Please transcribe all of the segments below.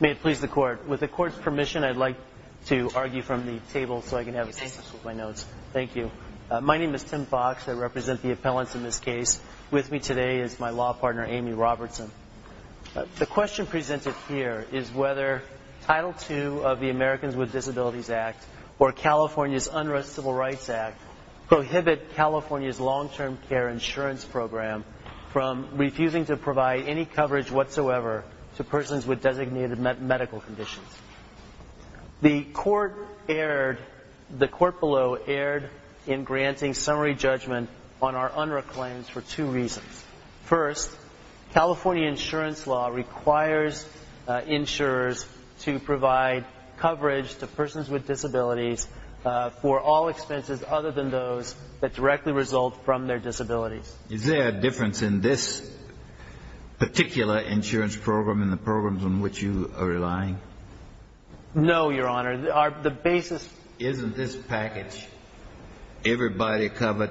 May it please the Court, with the Court's permission I'd like to argue from the table so I can have assistance with my notes. Thank you. My name is Tim Fox. I represent the appellants in this case. With me today is my law partner, Amy Robertson. The question presented here is whether Title II of the Americans with Disabilities Act or California's Unrest Civil Rights Act prohibit California's long-term care insurance program from refusing to provide any coverage whatsoever to persons with designated medical conditions. The Court below erred in granting summary judgment on our UNRRA claims for two reasons. First, California insurance law requires insurers to provide coverage to persons with disabilities for all expenses other than those that directly result from their disabilities. Is there a difference in this particular insurance program and the programs on which you are relying? No, Your Honor. The basis... Isn't this package, everybody covered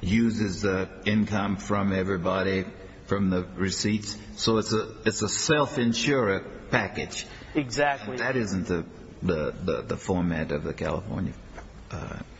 uses income from everybody from the receipts? So it's a self-insured package. Exactly. That isn't the format of the California...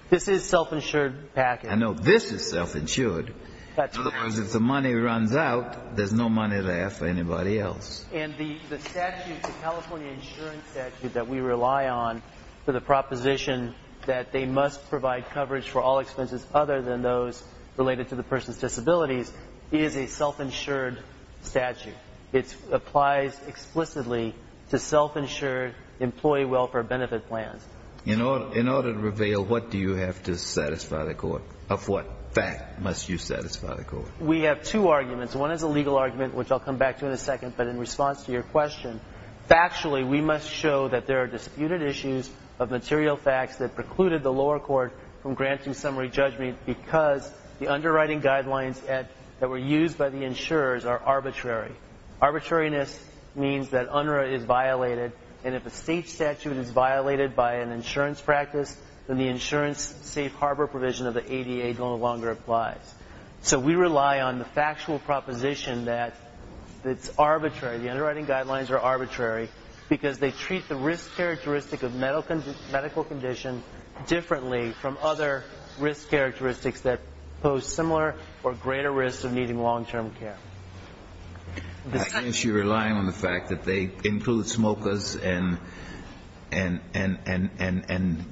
This is self-insured package. No, this is self-insured. Otherwise, if the money runs out, there's no money left for anybody else. And the statute, the California insurance statute that we rely on for the proposition that they must provide coverage for all expenses other than those related to the person's disabilities is a self-insured statute. It applies explicitly to self-insured employee welfare benefit plans. In order to reveal, what do you have to satisfy the Court? Of what fact must you satisfy the Court? We have two arguments. One is a legal argument, which I'll come back to in a second, but in response to your question, factually, we must show that there are disputed issues of material facts that precluded the lower court from granting summary judgment because the underwriting guidelines that were used by the insurers are arbitrary. Arbitrariness means that UNRRA is violated, and if a state statute is violated by an insurance practice, then the insurance safe harbor provision of the ADA no longer applies. So we rely on the factual proposition that it's arbitrary. The underwriting guidelines are arbitrary because they treat the risk characteristic of medical condition differently from other risk characteristics that pose similar or greater risk of needing long-term care. I guess you're relying on the fact that they include smokers and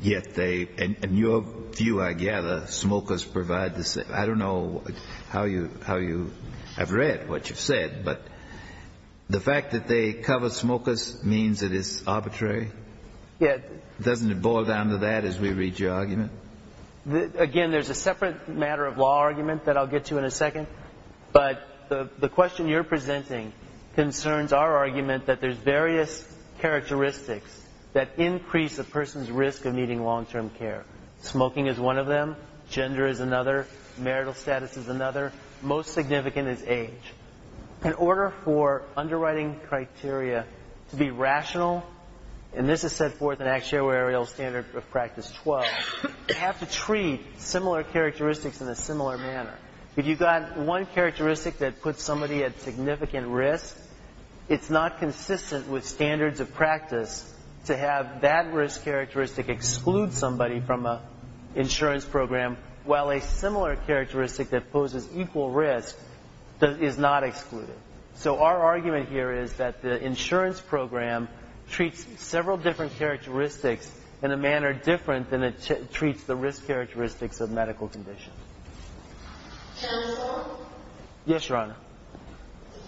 yet they, in your view, I gather, smokers provide the same. I don't know how you have read what you've said, but the fact that they cover smokers means that it's arbitrary? Yes. Doesn't it boil down to that as we read your argument? Again, there's a separate matter of law argument that I'll get to in a second, but the question you're presenting concerns our argument that there's various characteristics that increase a person's risk of needing long-term care. Smoking is one of them. Gender is another. Marital status is another. Most significant is age. In order for underwriting criteria to be rational, and this is set forth in Actuarial Standard of Practice 12, you have to treat similar characteristics in a similar manner. If you've got one characteristic that puts somebody at significant risk, it's not consistent with standards of practice to have that risk characteristic exclude somebody from an insurance program while a similar characteristic that poses equal risk is not excluded. So our argument here is that the insurance program treats several different characteristics in a manner different than it treats the risk characteristics of medical conditions. Counselor? Yes, Your Honor.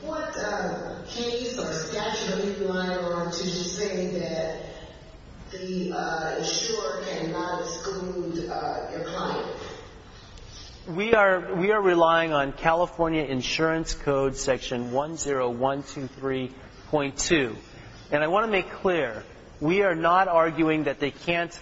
What case or statute are you relying on to say that the insurer cannot exclude your client? We are relying on California Insurance Code Section 10123.2. And I want to make clear, we are not arguing that they can't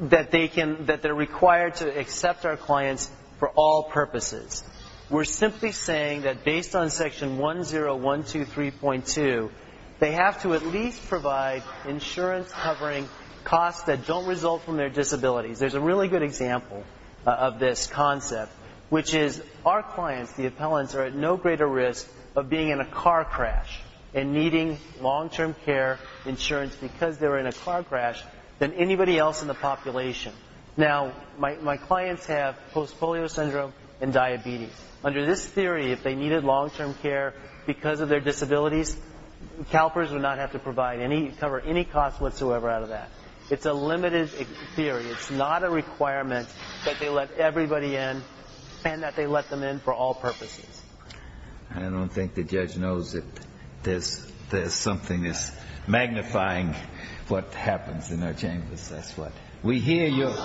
that they're required to accept our clients for all purposes. We're simply saying that based on Section 10123.2, they have to at least provide insurance covering costs that don't result from their disabilities. There's a really good example of this concept, which is our clients, the appellants, are at no greater risk of being in a car crash and needing long-term care insurance because they're in a car crash than anybody else in the population. Now, my clients have post-polio syndrome and diabetes. Under this theory, if they needed long-term care because of their disabilities, CalPERS would not have to cover any cost whatsoever out of that. It's a limited theory. It's not a requirement that they let everybody in and that they let them in for all purposes. I don't think the judge knows that there's something that's magnifying what happens in our chambers. That's what. We hear your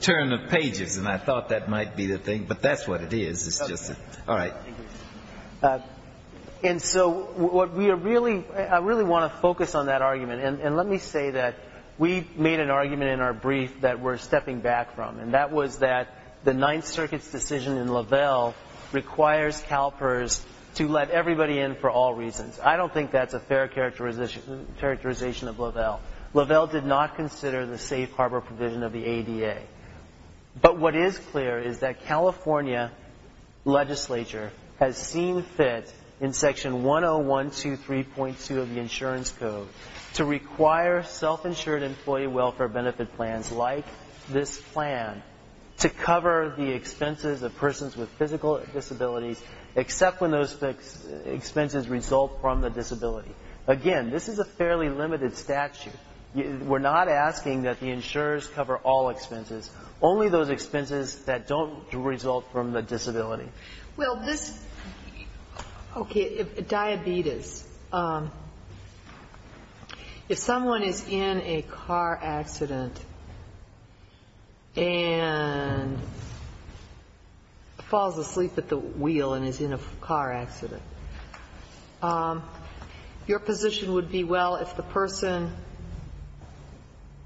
turn of pages, and I thought that might be the thing, but that's what it is. It's just that. All right. And so what we are really, I really want to focus on that argument. And let me say that we made an argument in our brief that we're stepping back from, and that was that the Ninth Circuit's decision in Lovell requires CalPERS to let everybody in for all reasons. I don't think that's a fair characterization of Lovell. Lovell did not consider the safe harbor provision of the ADA. But what is clear is that California legislature has seen fit, in Section 10123.2 of the Insurance Code, to require self-insured employee welfare benefit plans like this plan to cover the expenses of persons with physical disabilities except when those expenses result from the disability. Again, this is a fairly limited statute. We're not asking that the insurers cover all expenses, only those expenses that don't result from the disability. Well, this, okay, diabetes. If someone is in a car accident and falls asleep at the wheel and is in a car accident, your position would be, well, if the person,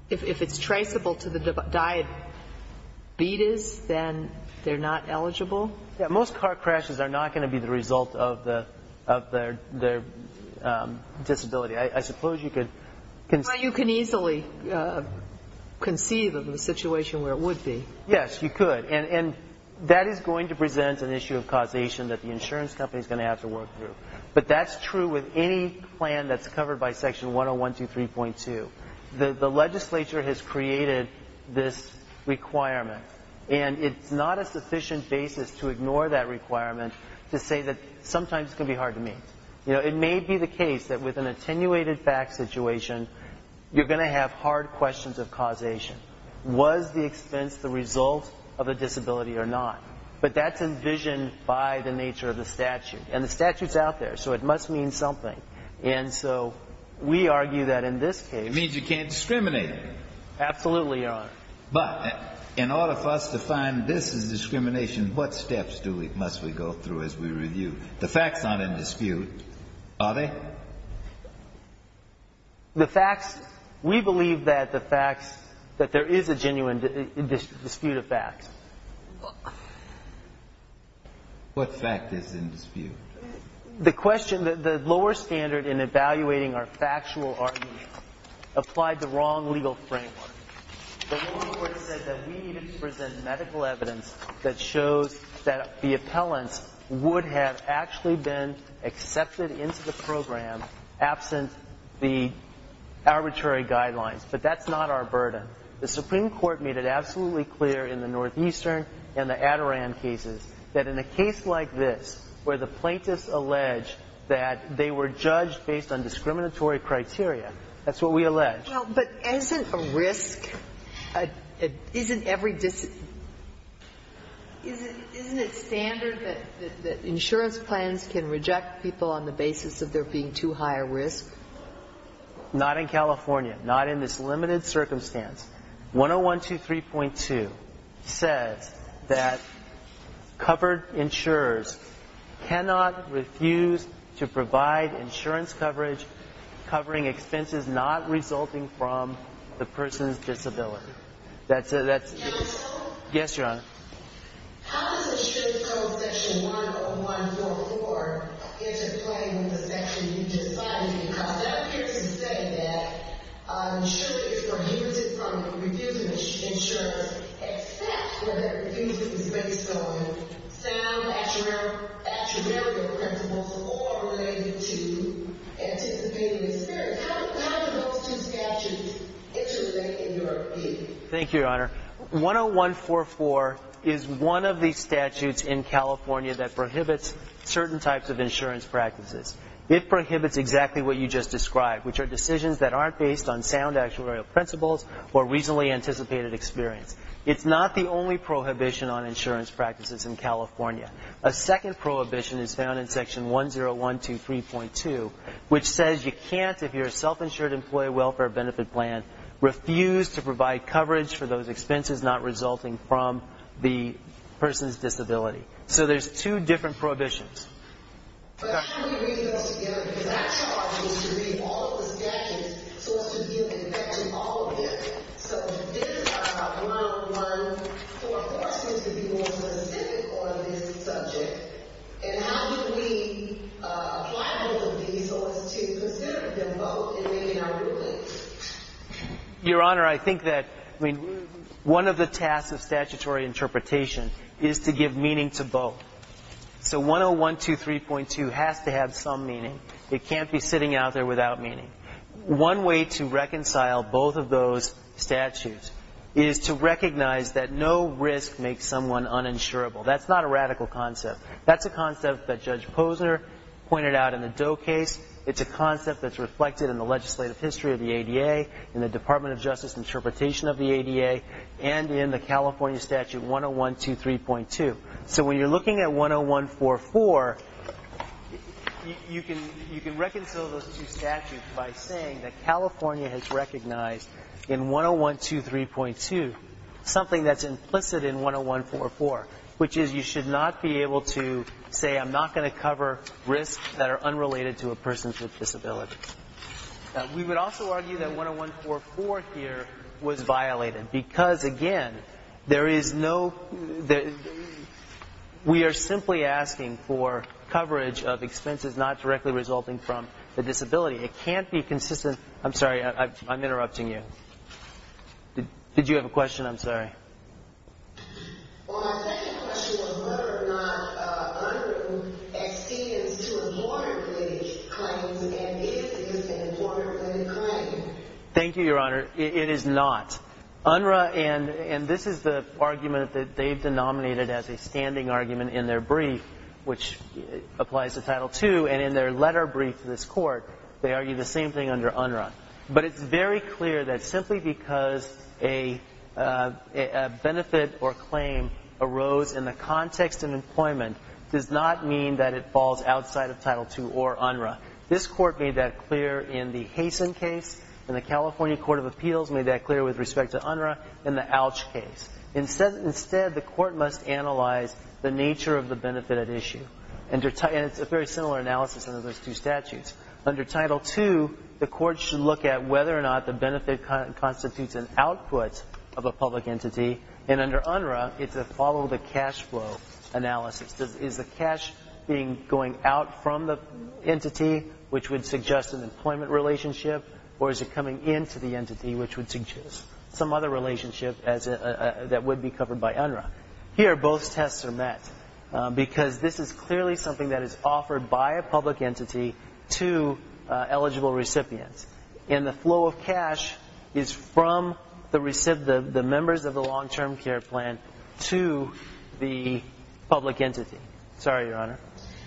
if it's traceable to the diabetes, then they're not eligible? Yeah, most car crashes are not going to be the result of their disability. I suppose you could... Well, you can easily conceive of a situation where it would be. Yes, you could. And that is going to present an issue of causation that the insurance company is going to have to work through. But that's true with any plan that's covered by Section 10123.2. The legislature has created this requirement, and it's not a sufficient basis to ignore that requirement to say that sometimes it's going to be hard to meet. You know, it may be the case that with an attenuated fact situation, you're going to have hard questions of causation. Was the expense the result of a disability or not? But that's envisioned by the nature of the statute, and the statute's out there, so it must mean something. And so we argue that in this case... It means you can't discriminate. Absolutely, Your Honor. But in order for us to find this is discrimination, what steps must we go through as we review? The facts aren't in dispute, are they? The facts, we believe that the facts, that there is a genuine dispute of facts. What fact is in dispute? The question, the lower standard in evaluating our factual argument applied the wrong legal framework. The Supreme Court said that we needed to present medical evidence that shows that the appellants would have actually been accepted into the program absent the arbitrary guidelines. But that's not our burden. The Supreme Court made it absolutely clear in the Northeastern and the Adirondack cases that in a case like this where the plaintiffs allege that they were judged based on discriminatory criteria, that's what we allege. Well, but isn't a risk... Isn't it standard that insurance plans can reject people on the basis of there being too high a risk? Not in California. Not in this limited circumstance. 10123.2 says that covered insurers cannot refuse to provide insurance coverage covering expenses not resulting from the person's disability. Counsel? Yes, Your Honor. How does insurance code section 10144 interplay with the section you just cited? Because that appears to say that insurance is prohibited from refusing insurance except when that refusal is based on sound actuarial principles or related to anticipated experience. How do those two statutes interrelate in your opinion? Thank you, Your Honor. 10144 is one of the statutes in California that prohibits certain types of insurance practices. It prohibits exactly what you just described, which are decisions that aren't based on sound actuarial principles or recently anticipated experience. It's not the only prohibition on insurance practices in California. A second prohibition is found in section 10123.2, which says you can't, if you're a self-insured employee welfare benefit plan, refuse to provide coverage for those expenses not resulting from the person's disability. So there's two different prohibitions. But how do we read those together? Because our charge was to read all of the statutes so as to give infection to all of them. So this 10144 seems to be more specific on this subject. And how do we apply both of these so as to consider them both in making our rulings? Your Honor, I think that one of the tasks of statutory interpretation is to give meaning to both. So 10123.2 has to have some meaning. It can't be sitting out there without meaning. One way to reconcile both of those statutes is to recognize that no risk makes someone uninsurable. That's not a radical concept. That's a concept that Judge Posner pointed out in the Doe case. It's a concept that's reflected in the legislative history of the ADA, in the Department of Justice interpretation of the ADA, and in the California statute 10123.2. So when you're looking at 10144, you can reconcile those two statutes by saying that California has recognized in 10123.2 something that's implicit in 10144, which is you should not be able to say, I'm not going to cover risks that are unrelated to a person with disabilities. We would also argue that 10144 here was violated because, again, there is no, we are simply asking for coverage of expenses not directly resulting from a disability. It can't be consistent. I'm sorry, I'm interrupting you. Did you have a question? I'm sorry. Thank you, Your Honor. It is not. UNRRA, and this is the argument that they've denominated as a standing argument in their brief, which applies to Title II, and in their letter brief to this Court, they argue the same thing under UNRRA. But it's very clear that simply because a benefit or claim arose in the context of employment does not mean that it falls outside of Title II or UNRRA. This Court made that clear in the Hasen case, and the California Court of Appeals made that clear with respect to UNRRA in the Alch case. Instead, the Court must analyze the nature of the benefit at issue, and it's a very similar analysis under those two statutes. Under Title II, the Court should look at whether or not the benefit constitutes an output of a public entity, and under UNRRA, it's a follow-the-cash-flow analysis. Is the cash going out from the entity, which would suggest an employment relationship, or is it coming into the entity, which would suggest some other relationship that would be covered by UNRRA? Here, both tests are met, because this is clearly something that is offered by a public entity to eligible recipients, and the flow of cash is from the members of the long-term care plan to the public entity. Sorry, Your Honor.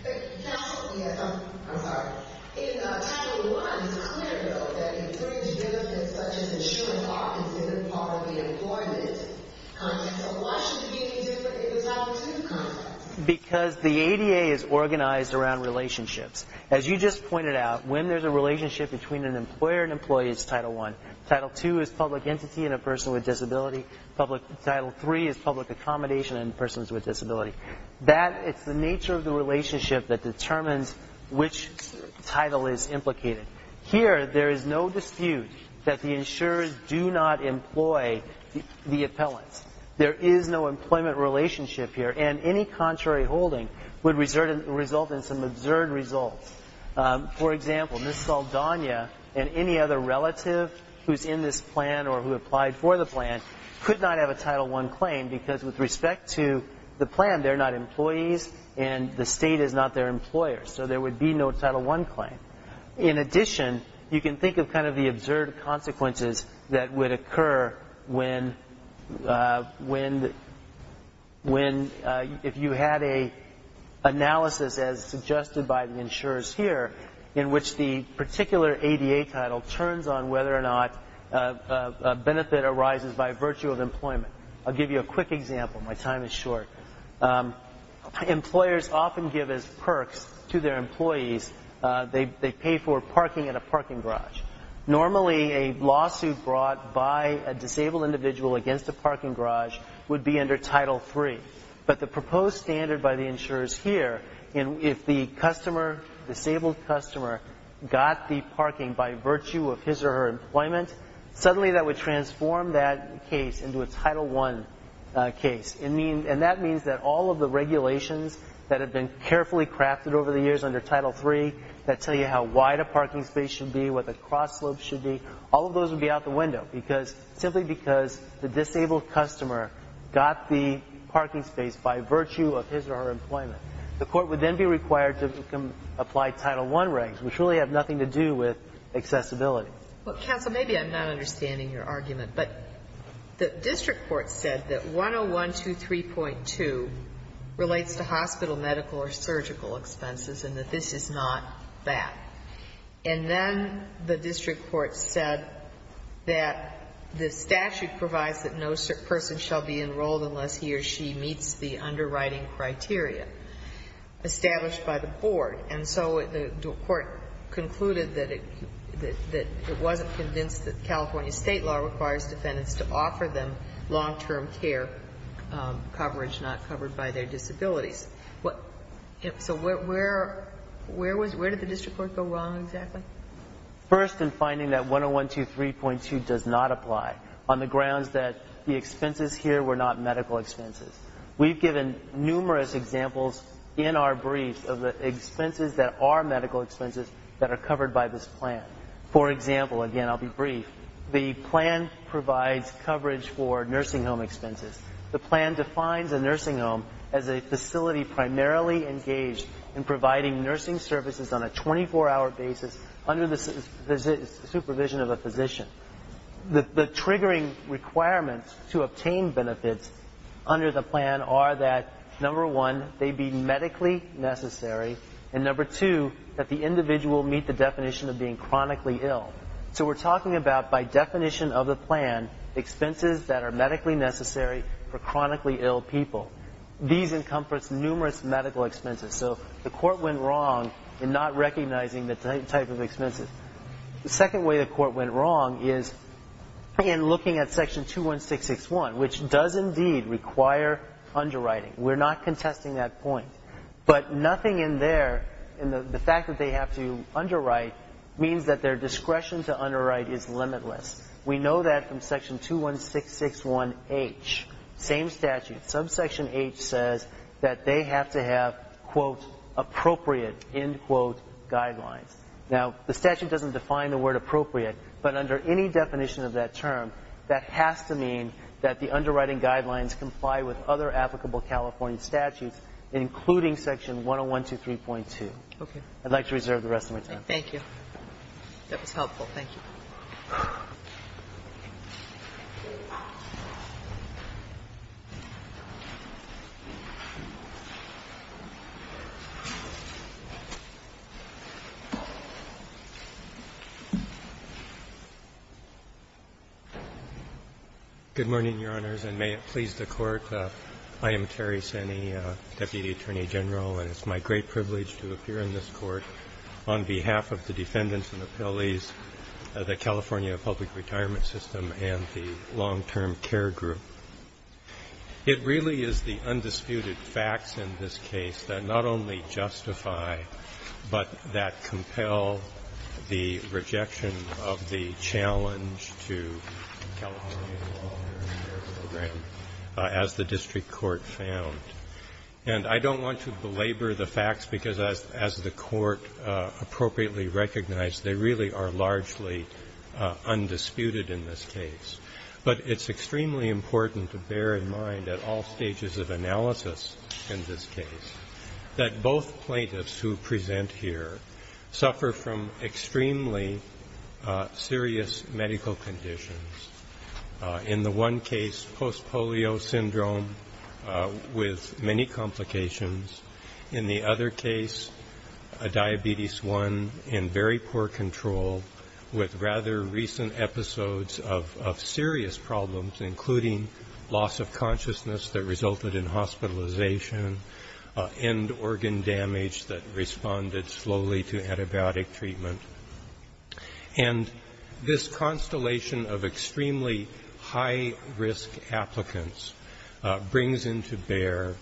I'm sorry. In Title I, it's clear, though, that insurance benefits such as insurance are considered part of the employment context. So why should the ADA do it in the Title II context? Because the ADA is organized around relationships. As you just pointed out, when there's a relationship between an employer and employee, it's Title I. Title II is public entity and a person with disability. Title III is public accommodation and persons with disability. It's the nature of the relationship that determines which title is implicated. Here, there is no dispute that the insurers do not employ the appellants. There is no employment relationship here, and any contrary holding would result in some absurd results. For example, Ms. Saldana and any other relative who's in this plan or who applied for the plan could not have a Title I claim, because with respect to the plan, they're not employees and the state is not their employer. So there would be no Title I claim. In addition, you can think of kind of the absurd consequences that would occur when, if you had an analysis as suggested by the insurers here, in which the particular ADA title turns on whether or not a benefit arises by virtue of employment. I'll give you a quick example. My time is short. Employers often give as perks to their employees, they pay for parking at a parking garage. Normally, a lawsuit brought by a disabled individual against a parking garage would be under Title III. But the proposed standard by the insurers here, if the disabled customer got the parking by virtue of his or her employment, suddenly that would transform that case into a Title I case. And that means that all of the regulations that have been carefully crafted over the years under Title III that tell you how wide a parking space should be, what the cross-slope should be, all of those would be out the window, simply because the disabled customer got the parking space by virtue of his or her employment. The court would then be required to apply Title I regs, which really have nothing to do with accessibility. Well, counsel, maybe I'm not understanding your argument. But the district court said that 10123.2 relates to hospital, medical, or surgical expenses and that this is not that. And then the district court said that the statute provides that no person shall be enrolled unless he or she meets the underwriting criteria established by the board. And so the court concluded that it wasn't convinced that California state law requires defendants to offer them long-term care coverage not covered by their disabilities. So where did the district court go wrong exactly? First, in finding that 10123.2 does not apply on the grounds that the expenses here were not medical expenses. We've given numerous examples in our brief of the expenses that are medical expenses that are covered by this plan. For example, again, I'll be brief. The plan provides coverage for nursing home expenses. The plan defines a nursing home as a facility primarily engaged in providing nursing services on a 24-hour basis under the supervision of a physician. The triggering requirements to obtain benefits under the plan are that, number one, they be medically necessary, and number two, that the individual meet the definition of being chronically ill. So we're talking about, by definition of the plan, expenses that are medically necessary for chronically ill people. These encompass numerous medical expenses. So the court went wrong in not recognizing the type of expenses. The second way the court went wrong is in looking at Section 21661, which does indeed require underwriting. We're not contesting that point. But nothing in there, in the fact that they have to underwrite, means that their discretion to underwrite is limitless. We know that from Section 21661H, same statute. Subsection H says that they have to have, quote, appropriate, end quote, guidelines. Now, the statute doesn't define the word appropriate, but under any definition of that term, that has to mean that the underwriting guidelines comply with other applicable California statutes, including Section 10123.2. I'd like to reserve the rest of my time. Thank you. That was helpful. Thank you. Terry Senni. Good morning, Your Honors, and may it please the Court. I am Terry Senni, Deputy Attorney General, and it's my great privilege to appear in this Court on behalf of the defendants and the appellees of the California Public Retirement System and the Long-Term Care Group. It really is the undisputed facts in this case that not only justify, but that compel the rejection of the challenge to California's long-term care program, as the district court found. And I don't want to belabor the facts because, as the Court appropriately recognized, they really are largely undisputed in this case. But it's extremely important to bear in mind at all stages of analysis in this case that both plaintiffs who present here suffer from extremely serious medical conditions. In the one case, post-polio syndrome with many complications. In the other case, a diabetes I in very poor control with rather recent episodes of serious problems, including loss of consciousness that resulted in hospitalization, end organ damage that responded slowly to antibiotic treatment. And this constellation of extremely high-risk applicants brings into bear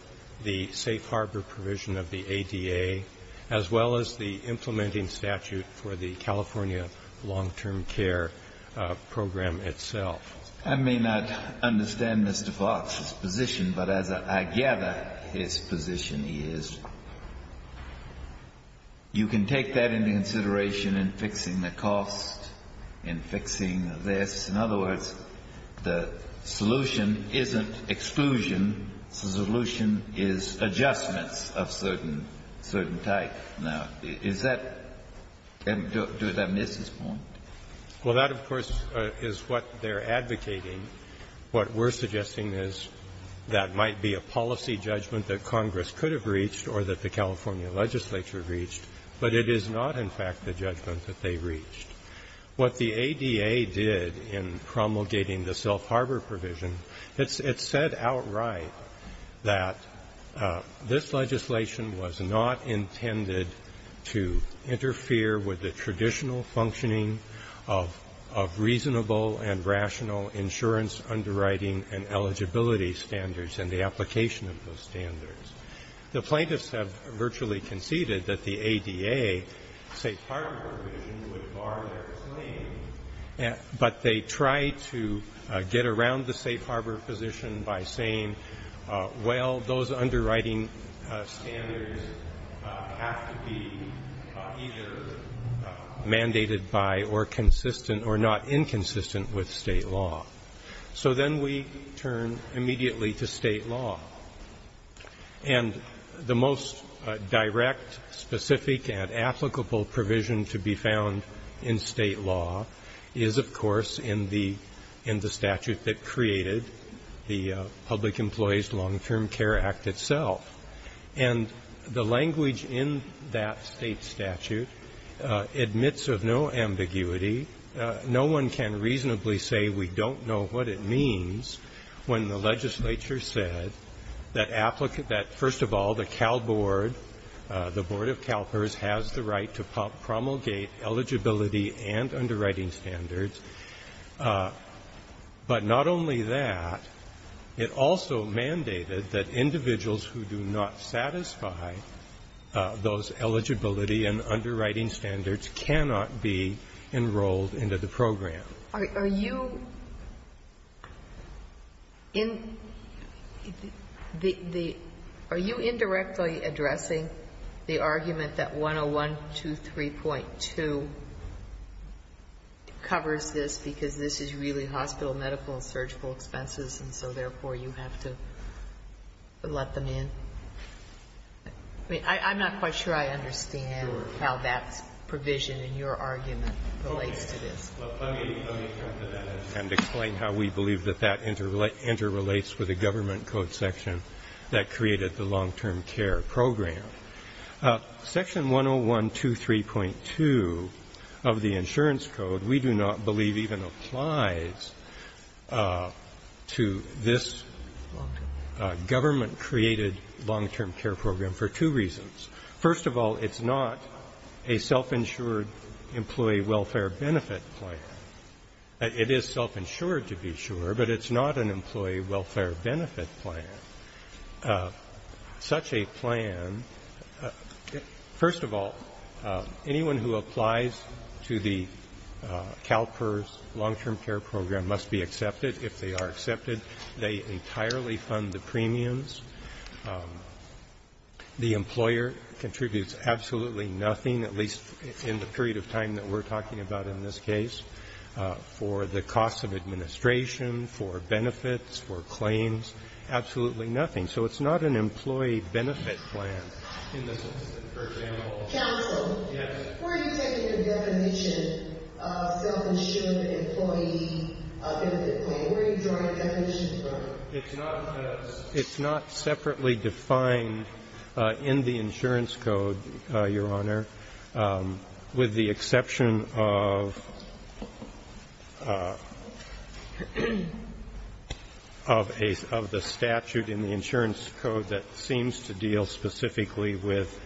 the safe harbor provision of the ADA, as well as the implementing statute for the California long-term care program itself. I may not understand Mr. Fox's position, but as I gather his position is, you can take that into consideration in fixing the cost, in fixing this. In other words, the solution isn't exclusion. The solution is adjustments of certain type. Now, is that do I miss his point? Well, that, of course, is what they're advocating. What we're suggesting is that might be a policy judgment that Congress could have reached or that the California legislature reached, but it is not, in fact, the judgment that they reached. What the ADA did in promulgating the self-harbor provision, it said outright that this legislation was not intended to interfere with the traditional functioning of reasonable and rational insurance underwriting and eligibility standards and the application of those standards. The plaintiffs have virtually conceded that the ADA safe harbor provision would bar their claim, but they tried to get around the safe harbor position by saying, well, those underwriting standards have to be either mandated by or consistent or not inconsistent with state law. So then we turn immediately to state law. And the most direct, specific, and applicable provision to be found in state law is, of course, in the statute that created the Public Employees Long-Term Care Act itself. And the language in that state statute admits of no ambiguity. No one can reasonably say we don't know what it means when the legislature said that, first of all, the Cal Board, the Board of CalPERS, has the right to promulgate eligibility and underwriting standards. But not only that, it also mandated that individuals who do not satisfy those eligibility and underwriting standards cannot be enrolled into the program. Sotomayor, are you indirectly addressing the argument that 10123.2 covers this because this is really hospital, medical, and surgical expenses, and so therefore you have to let them in? I mean, I'm not quite sure I understand how that provision in your argument relates to this. Well, let me turn to that and explain how we believe that that interrelates with the government code section that created the long-term care program. Section 10123.2 of the insurance code we do not believe even applies to this government-created long-term care program for two reasons. First of all, it's not a self-insured employee welfare benefit plan. It is self-insured, to be sure, but it's not an employee welfare benefit plan. Such a plan, first of all, anyone who applies to the CalPERS long-term care program must be accepted. If they are accepted, they entirely fund the premiums. The employer contributes absolutely nothing, at least in the period of time that we're talking about in this case, for the cost of administration, for benefits, for claims, absolutely nothing. So it's not an employee benefit plan in this instance. For example. Counsel. Yes. Where are you taking the definition of self-insured employee benefit plan? Where are you drawing the definition from? It's not separately defined in the insurance code, Your Honor, with the exception of the statute in the insurance code that seems to deal specifically with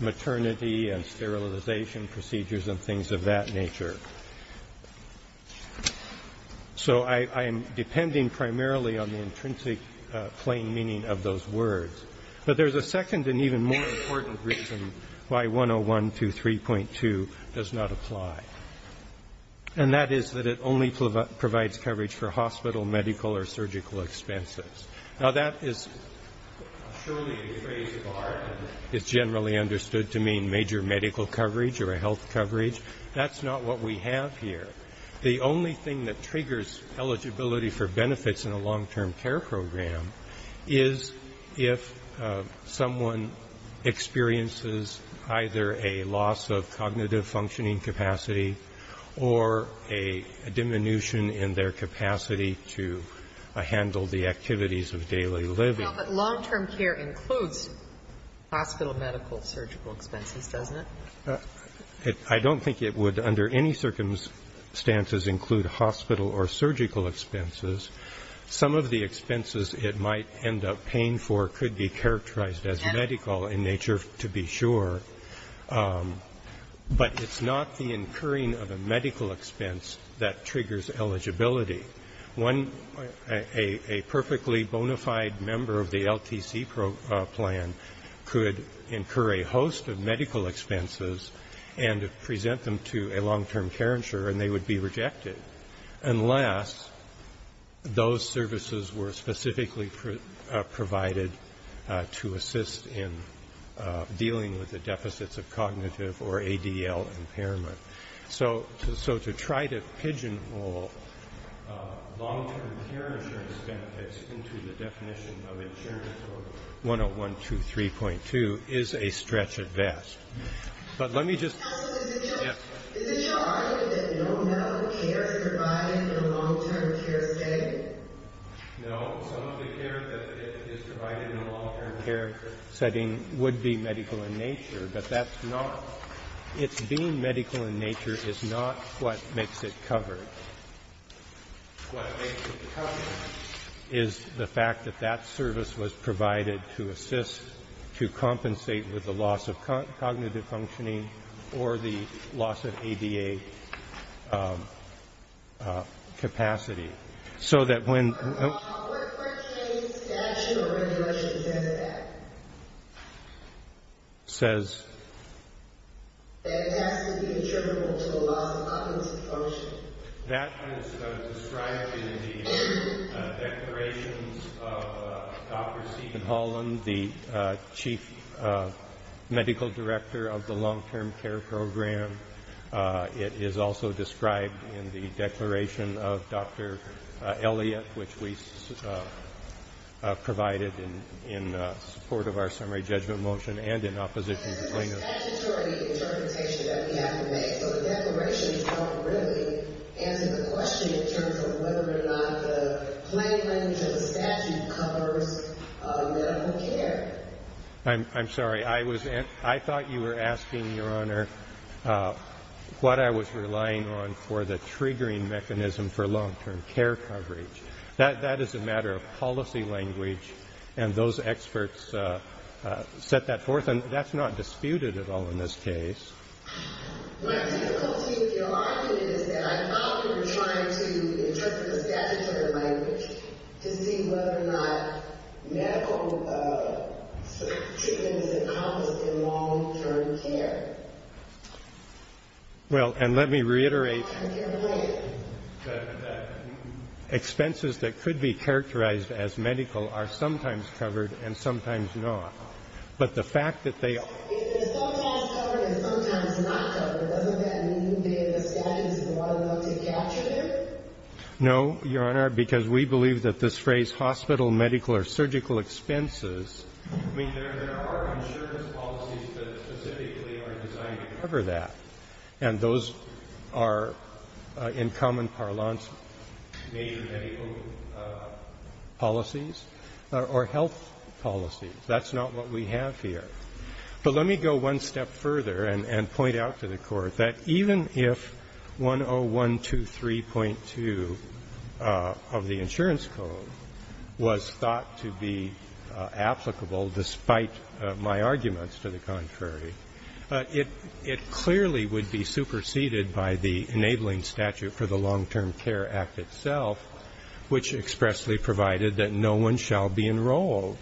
maternity and sterilization procedures and things of that nature. So I am depending primarily on the intrinsic plain meaning of those words. But there's a second and even more important reason why 101 to 3.2 does not apply, and that is that it only provides coverage for hospital, medical, or surgical expenses. Now, that is surely a phrase of art, and it's generally understood to mean major medical coverage or health coverage. That's not what we have here. The only thing that triggers eligibility for benefits in a long-term care program is if someone experiences either a loss of cognitive functioning capacity or a diminution in their capacity to handle the activities of daily living. But long-term care includes hospital, medical, surgical expenses, doesn't it? I don't think it would under any circumstances include hospital or surgical expenses. Some of the expenses it might end up paying for could be characterized as medical in nature, to be sure. But it's not the incurring of a medical expense that triggers eligibility. A perfectly bona fide member of the LTC plan could incur a host of medical expenses and present them to a long-term care insurer, and they would be rejected unless those services were specifically provided to assist in dealing with the deficits of cognitive or ADL impairment. So to try to pigeonhole long-term care insurance benefits into the definition of insurance or 10123.2 is a stretch at best. But let me just... Is it your argument that no medical care is provided in a long-term care setting? No. Some of the care that is provided in a long-term care setting would be medical in nature, but that's not... It's being medical in nature is not what makes it covered. What makes it covered is the fact that that service was provided to assist to compensate with the loss of cognitive functioning or the loss of ADA capacity. So that when... I'll work for a case. The statute or regulation says that. Says? That it has to be attributable to the loss of cognitive functioning. That is described in the declarations of Dr. Stephen Holland, the Chief Medical Director of the Long-Term Care Program. It is also described in the declaration of Dr. Elliot, which we provided in support of our summary judgment motion and in opposition to the plaintiff's... It's a statutory interpretation that we have to make. So the declaration is not really answering the question in terms of whether or not the plain language of the statute covers medical care. I'm sorry. I thought you were asking, Your Honor, what I was relying on for the triggering mechanism for long-term care coverage. That is a matter of policy language, and those experts set that forth, and that's not disputed at all in this case. My difficulty with your argument is that I thought you were trying to interpret the statutory language to see whether or not medical treatment is encompassed in long-term care. Well, and let me reiterate that expenses that could be characterized as medical are sometimes covered and sometimes not, but the fact that they... If they're sometimes covered and sometimes not covered, doesn't that mean that the statute is not allowed to capture them? No, Your Honor, because we believe that this phrase, hospital, medical, or surgical expenses, I mean, there are insurance policies that specifically are designed to cover that, and those are, in common parlance, major medical policies or health policies. That's not what we have here. But let me go one step further and point out to the Court that even if 10123.2 of the insurance code was thought to be applicable despite my arguments to the contrary, it clearly would be superseded by the enabling statute for the Long-Term Care Act itself, which expressly provided that no one shall be enrolled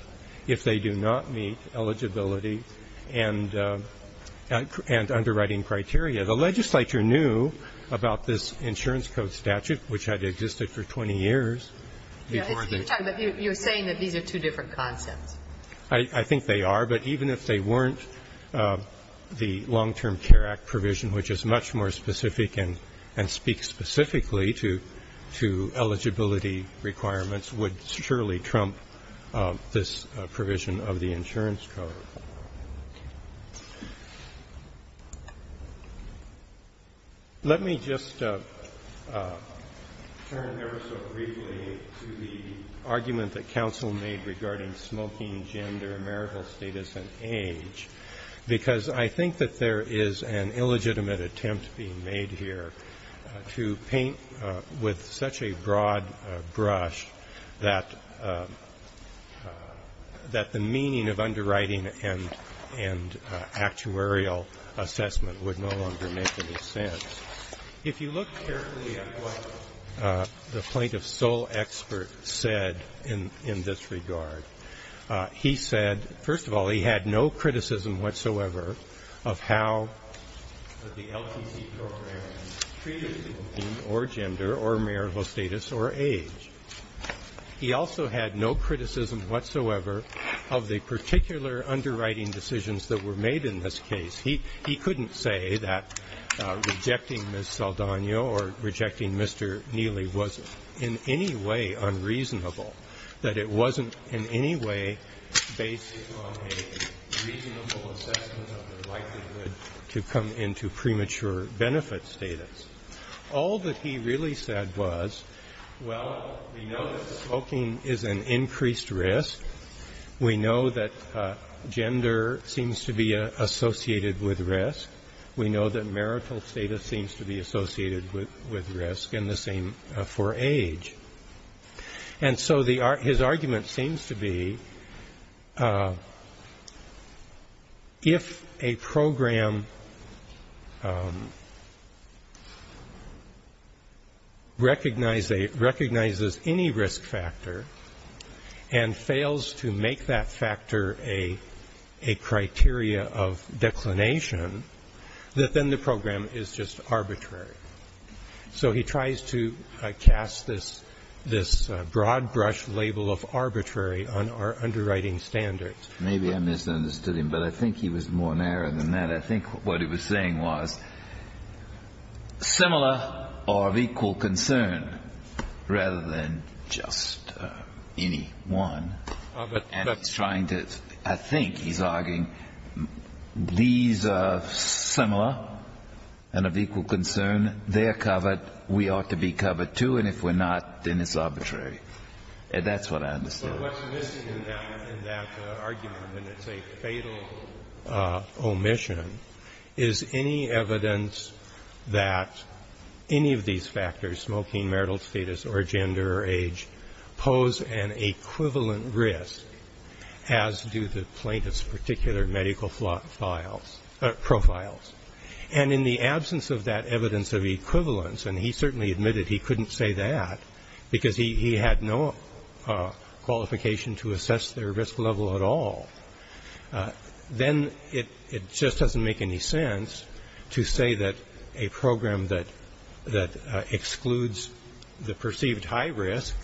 if they do not meet eligibility and underwriting criteria. The legislature knew about this insurance code statute, which had existed for 20 years before the... You're saying that these are two different concepts. I think they are, but even if they weren't, the Long-Term Care Act provision, which is much more specific and speaks specifically to eligibility requirements, would surely trump this provision of the insurance code. Let me just turn ever so briefly to the argument that counsel made regarding smoking, gender, marital status, and age, because I think that there is an illegitimate attempt being made here to paint with such a broad brush that the meaning of underwriting and actuarial assessment would no longer make any sense. If you look carefully at what the plaintiff's sole expert said in this regard, he said, first of all, he had no criticism whatsoever of how the LTC program treated smoking or gender or marital status or age. He also had no criticism whatsoever of the particular underwriting decisions that were made in this case. He couldn't say that rejecting Ms. Saldana or rejecting Mr. Neely was in any way unreasonable, that it wasn't in any way based on a reasonable assessment of the likelihood to come into premature benefit status. All that he really said was, well, we know that smoking is an increased risk. We know that gender seems to be associated with risk. We know that marital status seems to be associated with risk, and the same for age. And so his argument seems to be, if a program recognizes any risk factor and fails to make that factor a criteria of declination, that then the program is just arbitrary. So he tries to cast this broad-brush label of arbitrary on our underwriting standards. Maybe I misunderstood him, but I think he was more narrow than that. I think what he was saying was, similar or of equal concern, rather than just any one. And he's trying to, I think he's arguing, these are similar and of equal concern, they're covered, we ought to be covered, too, and if we're not, then it's arbitrary. And that's what I understand. But what's missing in that argument, when it's a fatal omission, is any evidence that any of these factors, smoking, marital status, or gender, or age, pose an equivalent risk, as do the plaintiff's particular medical profiles. And in the absence of that evidence of equivalence, and he certainly admitted he couldn't say that, because he had no qualification to assess their risk level at all, then it just doesn't make any sense to say that a program that excludes the perceived high risk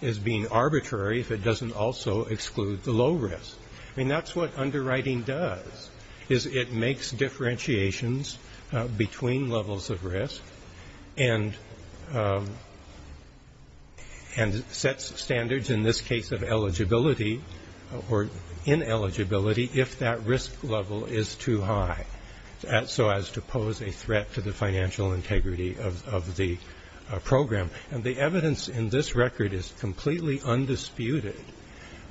is being arbitrary if it doesn't also exclude the low risk. I mean, that's what underwriting does, is it makes differentiations between levels of risk, and sets standards, in this case of eligibility, or ineligibility, if that risk level is too high, so as to pose a threat to the financial integrity of the program. And the evidence in this record is completely undisputed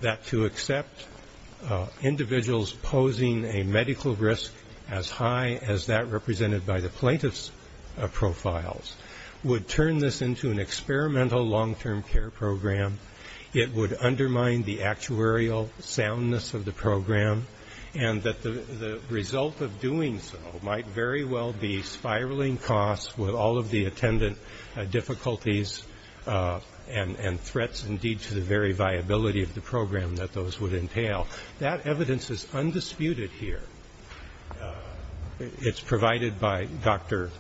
that to accept individuals posing a medical risk as high as that represented by the plaintiff's profiles would turn this into an experimental long-term care program. It would undermine the actuarial soundness of the program, and that the result of doing so might very well be one of the difficulties and threats, indeed, to the very viability of the program that those would entail. That evidence is undisputed here. It's provided by Dr.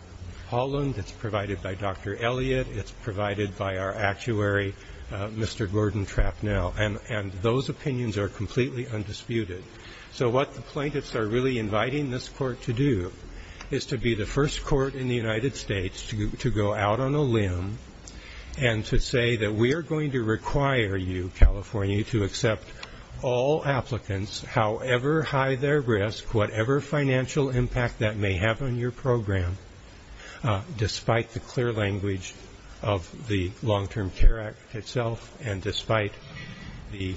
Holland, it's provided by Dr. Elliott, it's provided by our actuary, Mr. Gordon Trapnell, and those opinions are completely undisputed. So what the plaintiffs are really inviting this court to do is to be the first court in the United States to go out on a limb and to say that we are going to require you, California, to accept all applicants, however high their risk, whatever financial impact that may have on your program, despite the clear language of the Long-Term Care Act itself, and despite the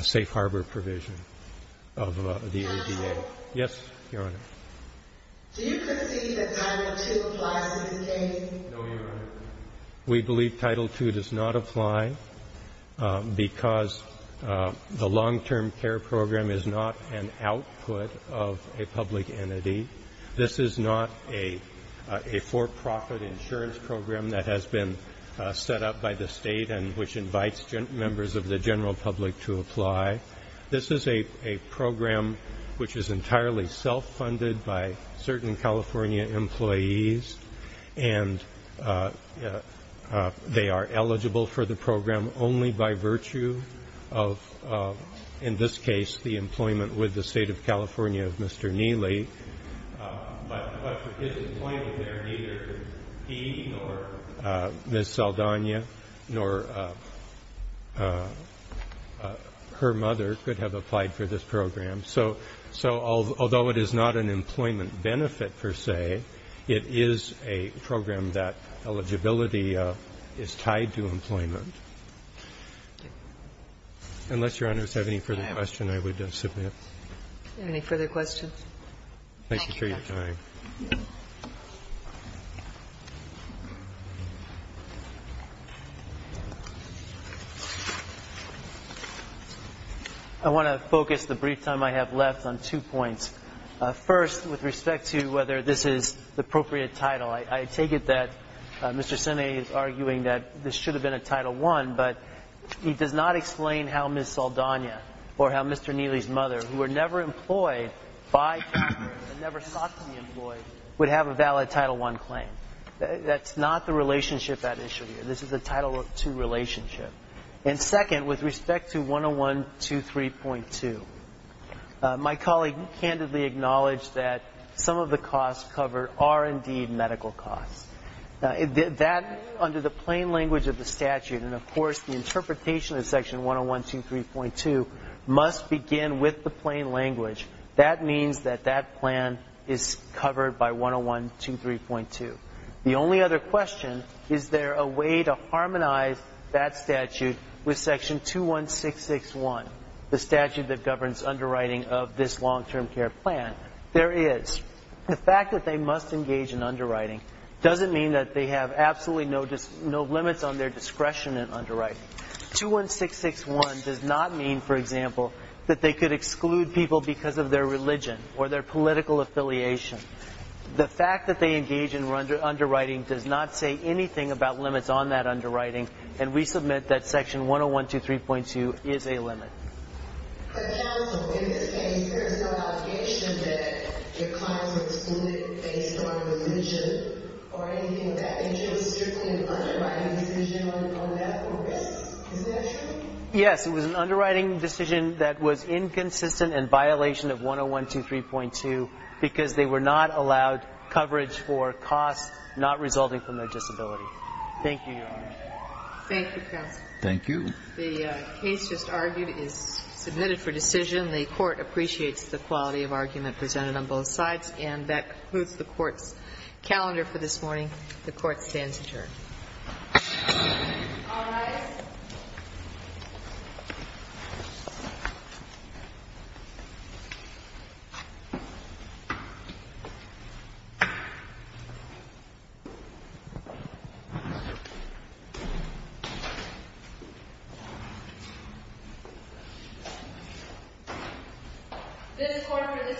safe harbor provision. Yes, Your Honor. We believe Title II does not apply because the long-term care program is not an output of a public entity. This is not a for-profit insurance program that has been set up by the state and which invites members of the general public to apply. This is a program which is entirely self-funded by certain California employees, and they are eligible for the program only by virtue of, in this case, the employment with the State of California of Mr. Neely. But for his employment there, neither he nor Ms. Saldana nor her mother could have applied for this program. So although it is not an employment benefit, per se, it is a program that eligibility is tied to employment. Unless Your Honors have any further questions, I would submit. Any further questions? I want to focus the brief time I have left on two points. First, with respect to whether this is the appropriate title. I take it that Mr. Senna is arguing that this should have been a Title I, and that employees who are never employed by California, never sought to be employed, would have a valid Title I claim. That is not the relationship at issue here. This is a Title II relationship. And second, with respect to 10123.2, my colleague candidly acknowledged that some of the costs covered are indeed medical costs. That, under the plain language of the statute, and of course the interpretation of Section 10123.2, must begin with the plain language. That means that that plan is covered by 10123.2. The only other question, is there a way to harmonize that statute with Section 21661, the statute that governs underwriting of this long-term care plan? There is. The fact that they must engage in underwriting doesn't mean that they have absolutely no limits on their discretion in underwriting. 21661 does not mean, for example, that they could exclude people because of their religion or their political affiliation. The fact that they engage in underwriting does not say anything about limits on that underwriting, and we submit that Section 10123.2 is a limit. But counsel, in this case, there is no obligation that your clients are excluded based on religion or anything of that nature. It was certainly an underwriting decision on death or risk. Isn't that true? Yes, it was an underwriting decision that was inconsistent and violation of 10123.2 because they were not allowed coverage for costs not resulting from their disability. Thank you, Your Honor. Thank you, counsel. Thank you. The case just argued is submitted for decision. The Court appreciates the quality of argument presented on both sides. And that concludes the Court's calendar for this morning. The Court stands adjourned. This Court for this session stands adjourned.